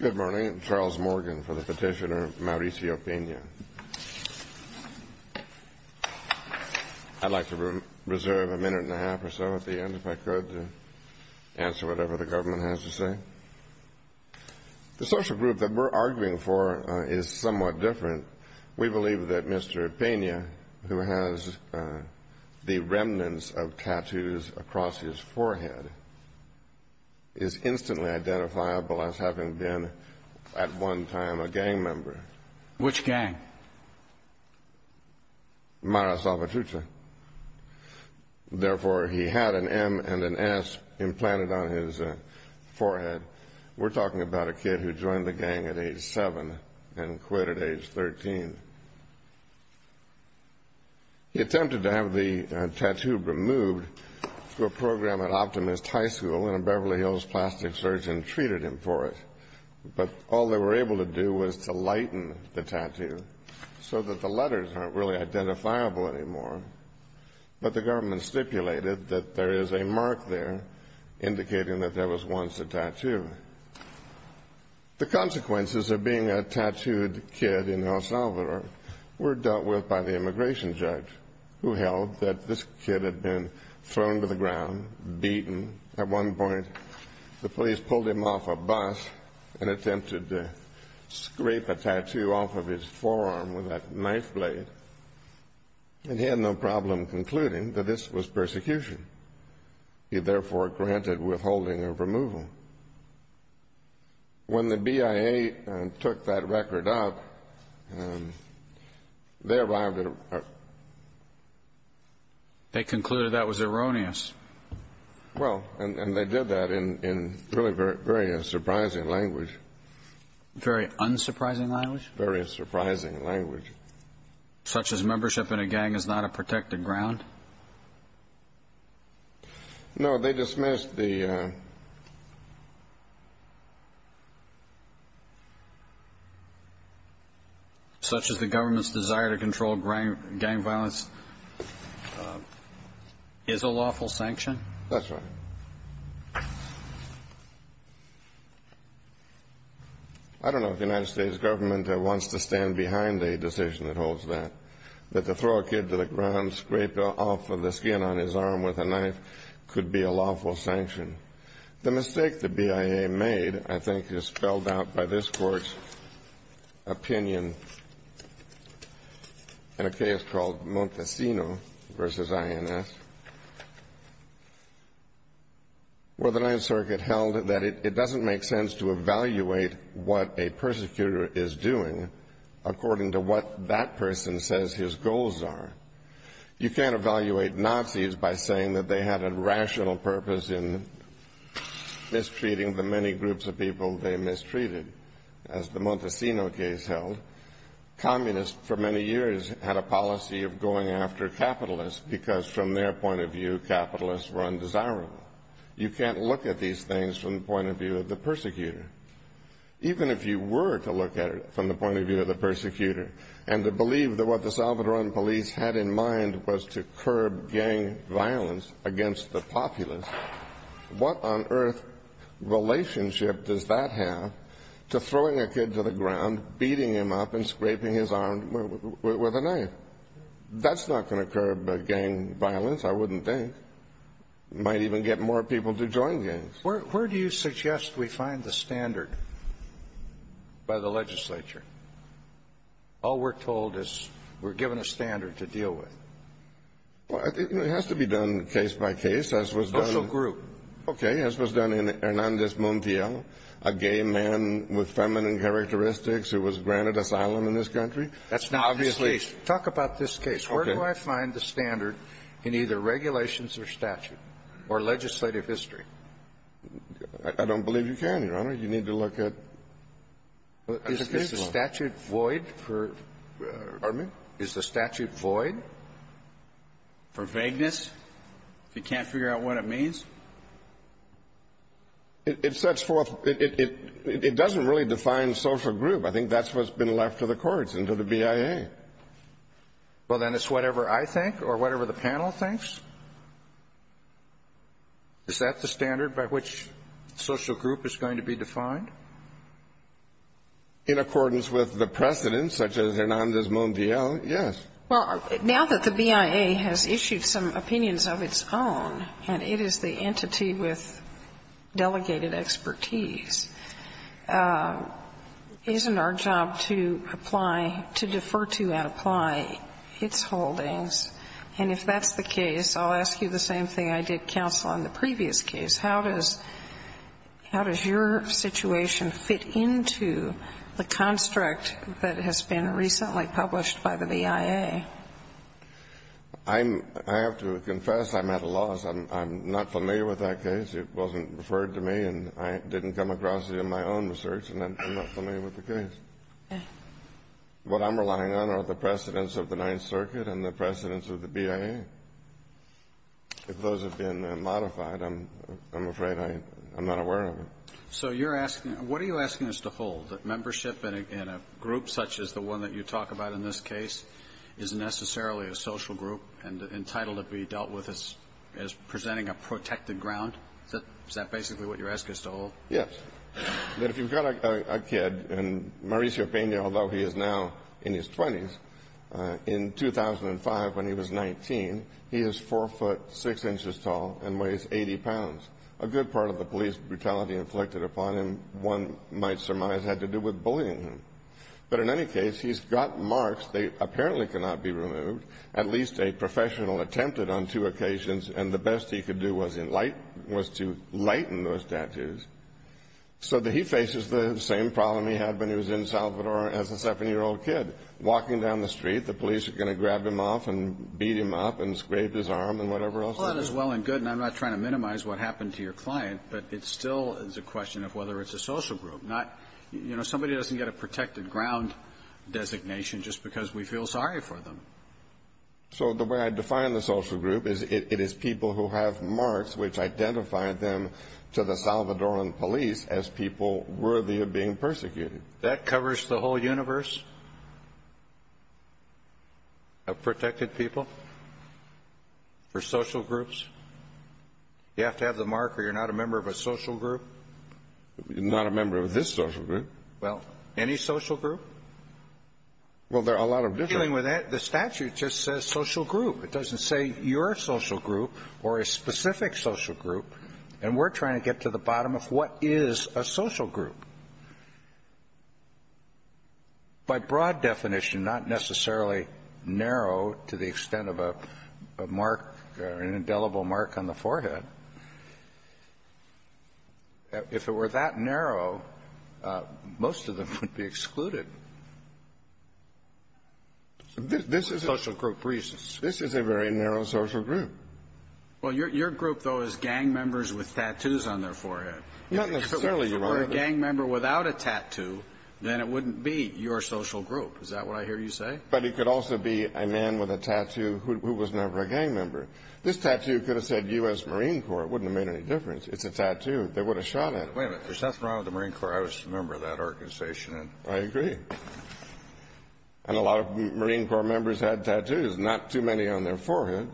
Good morning. I'm Charles Morgan for the petitioner Mauricio Pena. I'd like to reserve a minute and a half or so at the end if I could to answer whatever the government has to say. The social group that we're arguing for is somewhat different. We believe that Mr. Pena, who has the remnants of tattoos across his forehead, is instantly identifiable as having been at one time a gang member. Which gang? Mara Salvatrucha. Therefore, he had an M and an S implanted on his forehead. We're talking about a kid who joined the gang at age 7 and quit at age 13. He attempted to have the tattoo removed through a program at Optimist High School, and a Beverly Hills plastic surgeon treated him for it. But all they were able to do was to lighten the tattoo so that the letters aren't really identifiable anymore. But the government stipulated that there is a mark there indicating that there was once a tattoo. The consequences of being a tattooed kid in El Salvador were dealt with by the immigration judge, who held that this kid had been thrown to the ground, beaten. At one point, the police pulled him off a bus and attempted to scrape a tattoo off of his forearm with a knife blade. And he had no problem concluding that this was persecution. He, therefore, granted withholding of removal. When the BIA took that record out, they arrived at a... They concluded that was erroneous. Well, and they did that in really very surprising language. Very unsurprising language? Very surprising language. Such as membership in a gang is not a protected ground? No, they dismissed the... Such as the government's desire to control gang violence is a lawful sanction? That's right. I don't know if the United States government wants to stand behind a decision that holds that. That to throw a kid to the ground, scraped off of the skin on his arm with a knife, could be a lawful sanction. The mistake the BIA made, I think is spelled out by this Court's opinion in a case called Montesino v. INS, where the 9th Circuit held that it doesn't make sense to evaluate what a persecutor is doing according to what that person says his goals are. You can't evaluate Nazis by saying that they had a rational purpose in mistreating the many groups of people they mistreated. As the Montesino case held, communists for many years had a policy of going after capitalists because from their point of view, capitalists were undesirable. You can't look at these things from the point of view of the persecutor. Even if you were to look at it from the point of view of the persecutor, and to believe that what the Salvadoran police had in mind was to curb gang violence against the populace, what on earth relationship does that have to throwing a kid to the ground, beating him up, and scraping his arm with a knife? That's not going to curb gang violence, I wouldn't think. Might even get more people to join gangs. Where do you suggest we find the standard by the legislature? All we're told is we're given a standard to deal with. It has to be done case by case. Social group. Okay. As was done in Hernandez Montiel, a gay man with feminine characteristics who was granted asylum in this country. That's not the case. Talk about this case. Where do I find the standard in either regulations or statute? Or legislative history? I don't believe you can, Your Honor. You need to look at the case law. Is the statute void? Pardon me? Is the statute void? For vagueness? If you can't figure out what it means? It sets forth — it doesn't really define social group. I think that's what's been left to the courts and to the BIA. Okay. Well, then it's whatever I think or whatever the panel thinks? Is that the standard by which social group is going to be defined? In accordance with the precedent, such as Hernandez Montiel, yes. Well, now that the BIA has issued some opinions of its own, and it is the entity with delegated expertise, isn't our job to apply — to defer to and apply its holdings? And if that's the case, I'll ask you the same thing I did, counsel, on the previous case. How does your situation fit into the construct that has been recently published by the BIA? I have to confess I'm at a loss. I'm not familiar with that case. It wasn't referred to me, and I didn't come across it in my own research, and I'm not familiar with the case. What I'm relying on are the precedents of the Ninth Circuit and the precedents of the BIA. If those have been modified, I'm afraid I'm not aware of it. So you're asking — what are you asking us to hold, that membership in a group such as the one that you talk about in this case is necessarily a social group and entitled to be dealt with as presenting a protected ground? Is that basically what you're asking us to hold? Yes. That if you've got a kid, and Mauricio Peña, although he is now in his 20s, in 2005 when he was 19, he is 4 foot 6 inches tall and weighs 80 pounds. A good part of the police brutality inflicted upon him, one might surmise, had to do with bullying him. But in any case, he's got marks that apparently cannot be removed. At least a professional attempted on two occasions, and the best he could do was enlighten — was to lighten those tattoos, so that he faces the same problem he had when he was in Salvador as a 7-year-old kid. Walking down the street, the police are going to grab him off and beat him up and scrape his arm and whatever else. Well, that is well and good, and I'm not trying to minimize what happened to your client, but it still is a question of whether it's a social group, not — you know, nobody doesn't get a protected ground designation just because we feel sorry for them. So the way I define the social group is it is people who have marks which identify them to the Salvadoran police as people worthy of being persecuted. That covers the whole universe? Of protected people? For social groups? You have to have the mark or you're not a member of a social group? You're not a member of this social group. Well, any social group? Well, there are a lot of different — Dealing with that, the statute just says social group. It doesn't say your social group or a specific social group. And we're trying to get to the bottom of what is a social group. By broad definition, not necessarily narrow to the extent of a mark or an indelible mark on the forehead. If it were that narrow, most of them would be excluded. This is a — Social group reasons. This is a very narrow social group. Well, your group, though, is gang members with tattoos on their forehead. Not necessarily. If it were a gang member without a tattoo, then it wouldn't be your social group. Is that what I hear you say? But it could also be a man with a tattoo who was never a gang member. This tattoo could have said U.S. Marine Corps. It wouldn't have made any difference. It's a tattoo. They would have shot at it. Wait a minute. There's nothing wrong with the Marine Corps. I was a member of that organization. I agree. And a lot of Marine Corps members had tattoos, not too many on their forehead.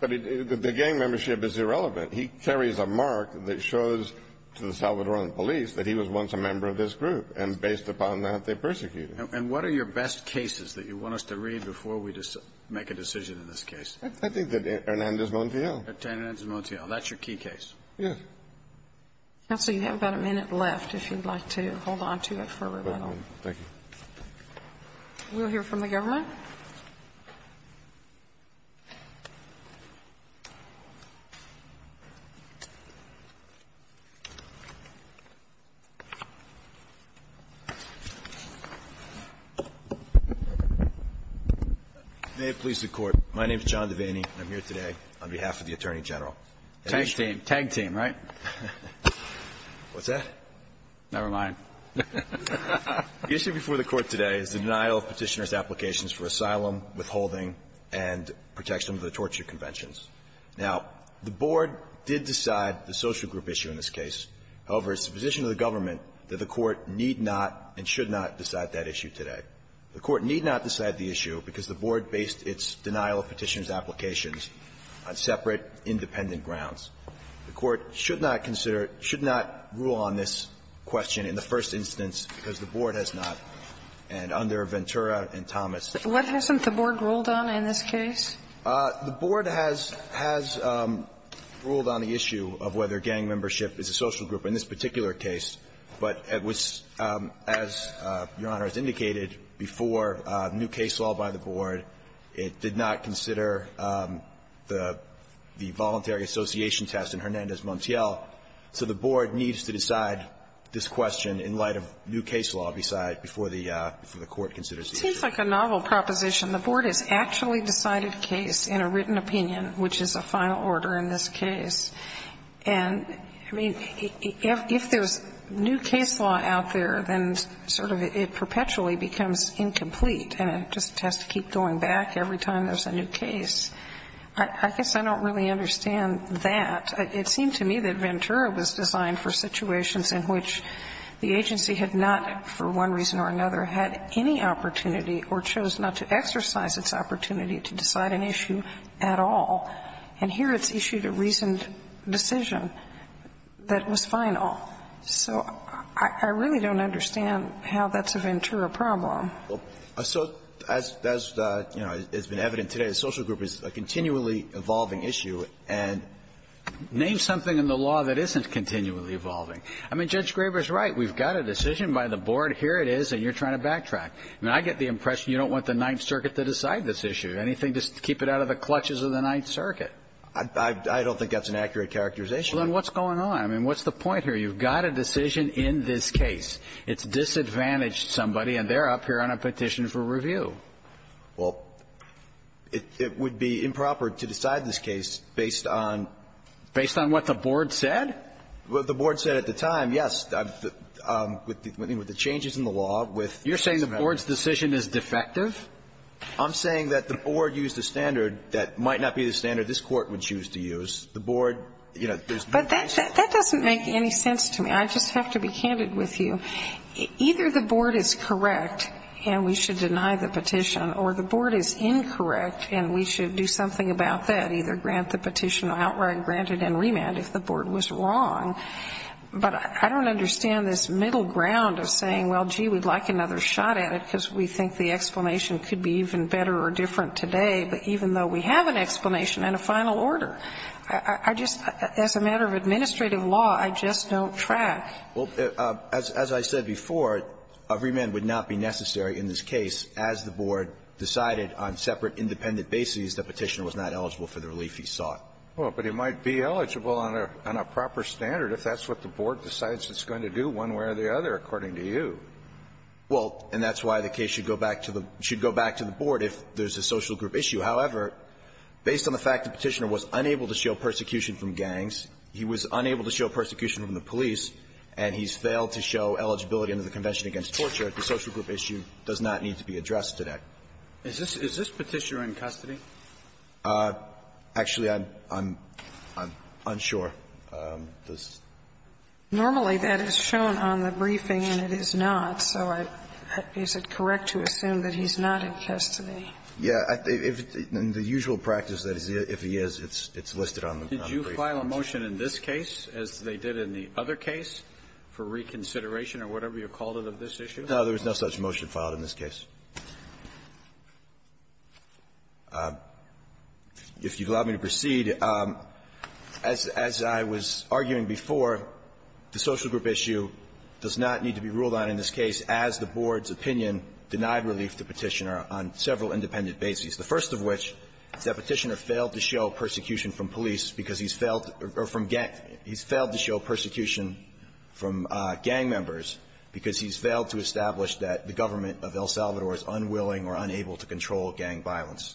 But the gang membership is irrelevant. He carries a mark that shows to the Salvadoran police that he was once a member of this group. And based upon that, they persecuted him. And what are your best cases that you want us to read before we make a decision in this case? I think that Hernandez-Montiel. Hernandez-Montiel. That's your key case. Yes. Counsel, you have about a minute left if you'd like to hold on to it for a little Thank you. We'll hear from the government. May it please the Court. My name is John Devaney, and I'm here today on behalf of the Attorney General. Tag team. Tag team, right? What's that? Never mind. The issue before the Court today is the denial of Petitioner's applications for asylum, withholding, and protection under the Torture Conventions. Now, the Board did decide the social group issue in this case. However, it's the position of the government that the Court need not and should not decide that issue today. The Court need not decide the issue because the Board based its denial of Petitioner's applications on separate, independent grounds. The Court should not consider, should not rule on this question in the first instance because the Board has not. And under Ventura and Thomas. What hasn't the Board ruled on in this case? The Board has ruled on the issue of whether gang membership is a social group in this Your Honor, it's indicated before new case law by the Board. It did not consider the voluntary association test in Hernandez Montiel. So the Board needs to decide this question in light of new case law before the Court considers the issue. It seems like a novel proposition. The Board has actually decided case in a written opinion, which is a final order in this case. And, I mean, if there's new case law out there, then sort of it perpetually becomes incomplete and it just has to keep going back every time there's a new case. I guess I don't really understand that. It seemed to me that Ventura was designed for situations in which the agency had not, for one reason or another, had any opportunity or chose not to exercise its opportunity to decide an issue at all. And here it's issued a reasoned decision that was final. So I really don't understand how that's a Ventura problem. So as has been evident today, a social group is a continually evolving issue. And name something in the law that isn't continually evolving. I mean, Judge Graber's right. We've got a decision by the Board. Here it is, and you're trying to backtrack. I mean, I get the impression you don't want the Ninth Circuit to decide this issue. Anything to keep it out of the clutches of the Ninth Circuit? I don't think that's an accurate characterization. Well, then what's going on? I mean, what's the point here? You've got a decision in this case. It's disadvantaged somebody, and they're up here on a petition for review. Well, it would be improper to decide this case based on ---- Based on what the Board said? The Board said at the time, yes, with the changes in the law, with ---- You're saying the Board's decision is defective? I'm saying that the Board used a standard that might not be the standard this Court would choose to use. The Board ---- But that doesn't make any sense to me. I just have to be candid with you. Either the Board is correct and we should deny the petition, or the Board is incorrect and we should do something about that, either grant the petition outright, grant it in remand if the Board was wrong. But I don't understand this middle ground of saying, well, gee, we'd like another shot at it because we think the explanation could be even better or different today, but even though we have an explanation and a final order, I just ---- as a matter of administrative law, I just don't track. Well, as I said before, a remand would not be necessary in this case as the Board decided on separate independent bases the petitioner was not eligible for the relief he sought. Well, but he might be eligible on a proper standard if that's what the Board decides it's going to do one way or the other, according to you. Well, and that's why the case should go back to the Board if there's a social group issue. However, based on the fact the petitioner was unable to show persecution from gangs, he was unable to show persecution from the police, and he's failed to show eligibility under the Convention Against Torture, the social group issue does not need to be addressed today. Is this petitioner in custody? Actually, I'm unsure. Normally, that is shown on the briefing and it is not, so is it correct to assume that he's not in custody? Yeah. In the usual practice, if he is, it's listed on the briefing. Did you file a motion in this case as they did in the other case for reconsideration or whatever you called it of this issue? No, there was no such motion filed in this case. If you'd allow me to proceed, as I was arguing before, the social group issue does not need to be ruled on in this case as the Board's opinion denied relief to the petitioner on several independent bases, the first of which is that Petitioner failed to show persecution from police because he's failed to show persecution from gang members because he's failed to establish that the government of El Salvador is unwilling or unable to control gang violence.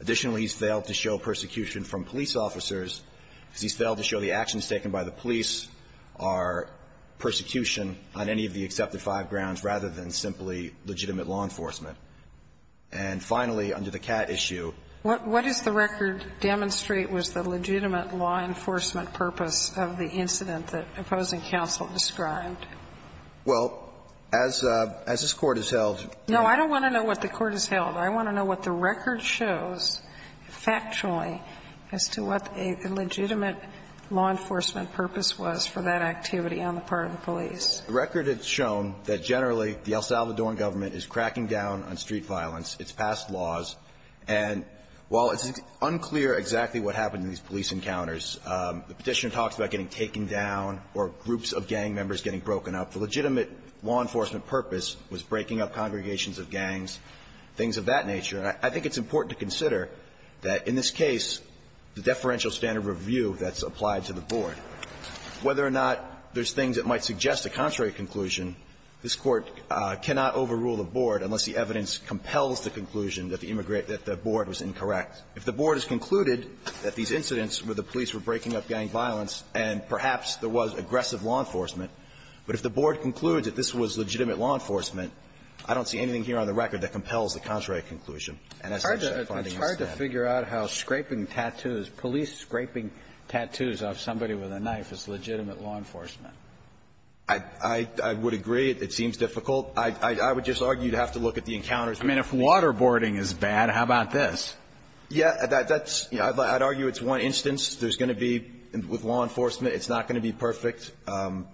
Additionally, he's failed to show persecution from police officers because he's failed to show the actions taken by the police are persecution on any of the accepted five grounds rather than simply legitimate law enforcement. And finally, under the CAT issue What does the record demonstrate was the legitimate law enforcement purpose of the incident that opposing counsel described? Well, as this Court has held No, I don't want to know what the Court has held. I want to know what the record shows factually as to what a legitimate law enforcement purpose was for that activity on the part of the police. The record has shown that generally the El Salvador government is cracking down on street The petitioner talks about getting taken down or groups of gang members getting broken up. The legitimate law enforcement purpose was breaking up congregations of gangs, things of that nature. And I think it's important to consider that in this case the deferential standard review that's applied to the Board, whether or not there's things that might suggest a contrary conclusion, this Court cannot overrule the Board unless the evidence compels the conclusion that the board was incorrect. If the board has concluded that these incidents where the police were breaking up gang violence and perhaps there was aggressive law enforcement, but if the board concludes that this was legitimate law enforcement, I don't see anything here on the record that compels the contrary conclusion. It's hard to figure out how police scraping tattoos off somebody with a knife is legitimate law enforcement. I would agree. It seems difficult. I would just argue you'd have to look at the encounters. I mean, if waterboarding is bad, how about this? Yeah, that's, you know, I'd argue it's one instance. There's going to be, with law enforcement, it's not going to be perfect. I'm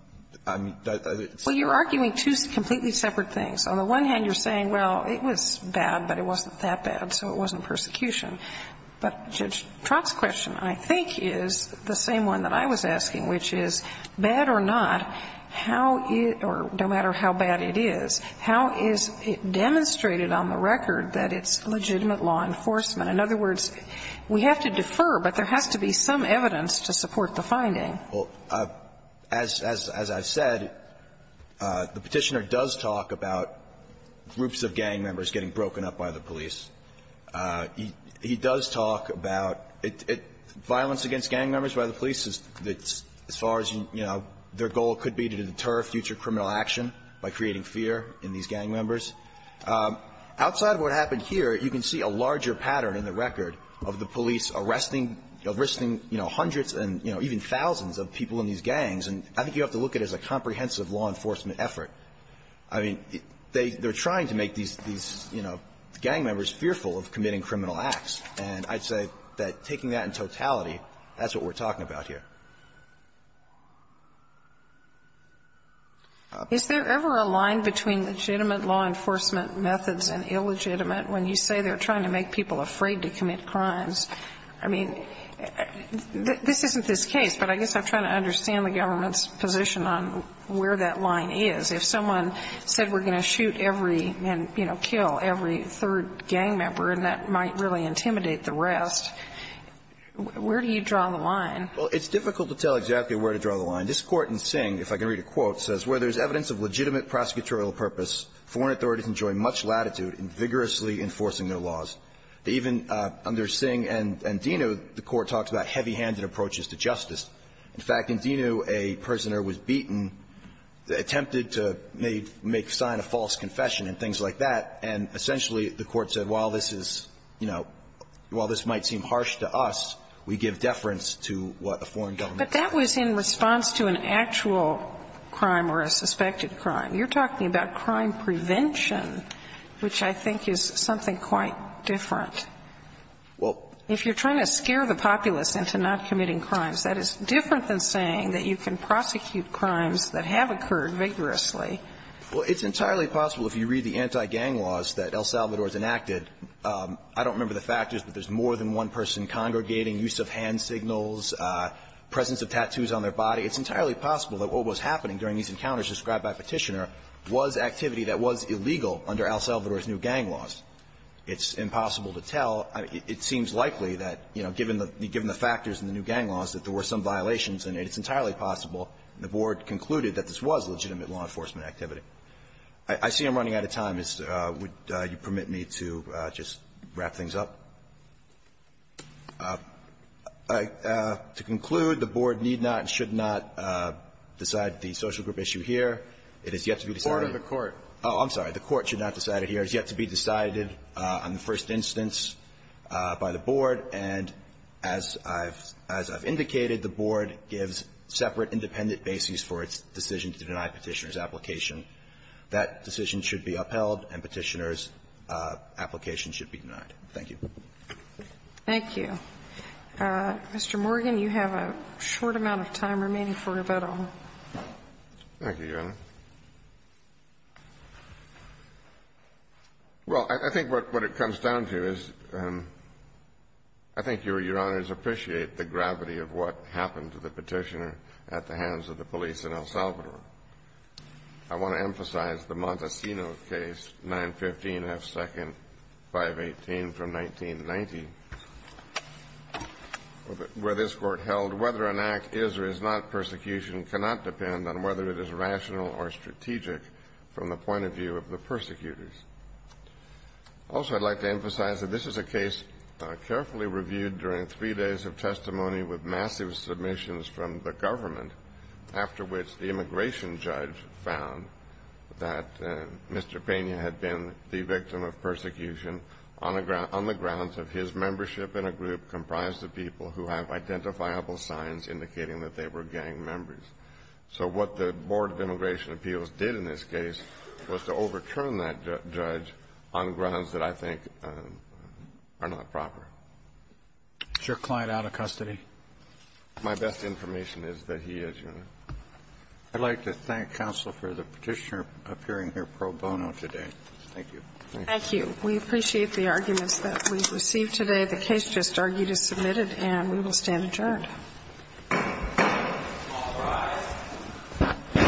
sorry. Well, you're arguing two completely separate things. On the one hand, you're saying, well, it was bad, but it wasn't that bad, so it wasn't persecution. But Judge Trott's question, I think, is the same one that I was asking, which is, bad or not, how is or no matter how bad it is, how is it demonstrated on the record that it's legitimate law enforcement? In other words, we have to defer, but there has to be some evidence to support the finding. Well, as I've said, the Petitioner does talk about groups of gang members getting broken up by the police. He does talk about violence against gang members by the police as far as, you know, their goal could be to deter future criminal action by creating fear in these gang members. Outside of what happened here, you can see a larger pattern in the record of the police arresting, arresting, you know, hundreds and, you know, even thousands of people in these gangs, and I think you have to look at it as a comprehensive law enforcement effort. I mean, they're trying to make these, you know, gang members fearful of committing criminal acts, and I'd say that taking that in totality, that's what we're talking about here. Is there ever a line between legitimate law enforcement methods and illegitimate when you say they're trying to make people afraid to commit crimes? I mean, this isn't this case, but I guess I'm trying to understand the government's position on where that line is. If someone said we're going to shoot every, you know, kill every third gang member and that might really intimidate the rest, where do you draw the line? Well, it's difficult to tell exactly where to draw the line. This Court in Singh, if I can read a quote, says, Where there is evidence of legitimate prosecutorial purpose, foreign authorities enjoy much latitude in vigorously enforcing their laws. Even under Singh and Dino, the Court talks about heavy-handed approaches to justice. In fact, in Dino, a prisoner was beaten, attempted to make sign of false confession and things like that, and essentially the Court said, while this is, you know, while this might seem harsh to us, we give deference to what the foreign government says. But that was in response to an actual crime or a suspected crime. You're talking about crime prevention, which I think is something quite different. Well, if you're trying to scare the populace into not committing crimes, that is different than saying that you can prosecute crimes that have occurred vigorously. Well, it's entirely possible if you read the anti-gang laws that El Salvador has enacted. I don't remember the factors, but there's more than one person congregating, use of hand signals, presence of tattoos on their body. It's entirely possible that what was happening during these encounters described by Petitioner was activity that was illegal under El Salvador's new gang laws. It's impossible to tell. It seems likely that, you know, given the factors in the new gang laws, that there were some violations in it. It's entirely possible, the Board concluded, that this was legitimate law enforcement activity. I see I'm running out of time. Would you permit me to just wrap things up? To conclude, the Board need not and should not decide the social group issue here. It has yet to be decided. Order of the Court. Oh, I'm sorry. The Court should not decide it here. It has yet to be decided on the first instance by the Board. And as I've indicated, the Board gives separate independent bases for its decision to deny Petitioner's application. That decision should be upheld and Petitioner's application should be denied. Thank you. Thank you. Mr. Morgan, you have a short amount of time remaining for rebuttal. Thank you, Your Honor. Well, I think what it comes down to is I think Your Honors appreciate the gravity of what happened to the Petitioner at the hands of the police in El Salvador. I want to emphasize the Montesino case, 915 F. 2nd, 518 from 1990, where this Court held whether an act is or is not persecution cannot depend on whether it is rational or strategic from the point of view of the persecutors. Also, I'd like to emphasize that this is a case carefully reviewed during three days of testimony with massive submissions from the government, after which the immigration judge found that Mr. Pena had been the victim of persecution on the grounds of his membership in a group comprised of people who have identifiable signs indicating that they were gang members. So what the Board of Immigration Appeals did in this case was to overturn that judge on grounds that I think are not proper. Is your client out of custody? My best information is that he is, Your Honor. I'd like to thank counsel for the Petitioner appearing here pro bono today. Thank you. Thank you. We appreciate the arguments that we've received today. The case just argued is submitted, and we will stand adjourned. All rise.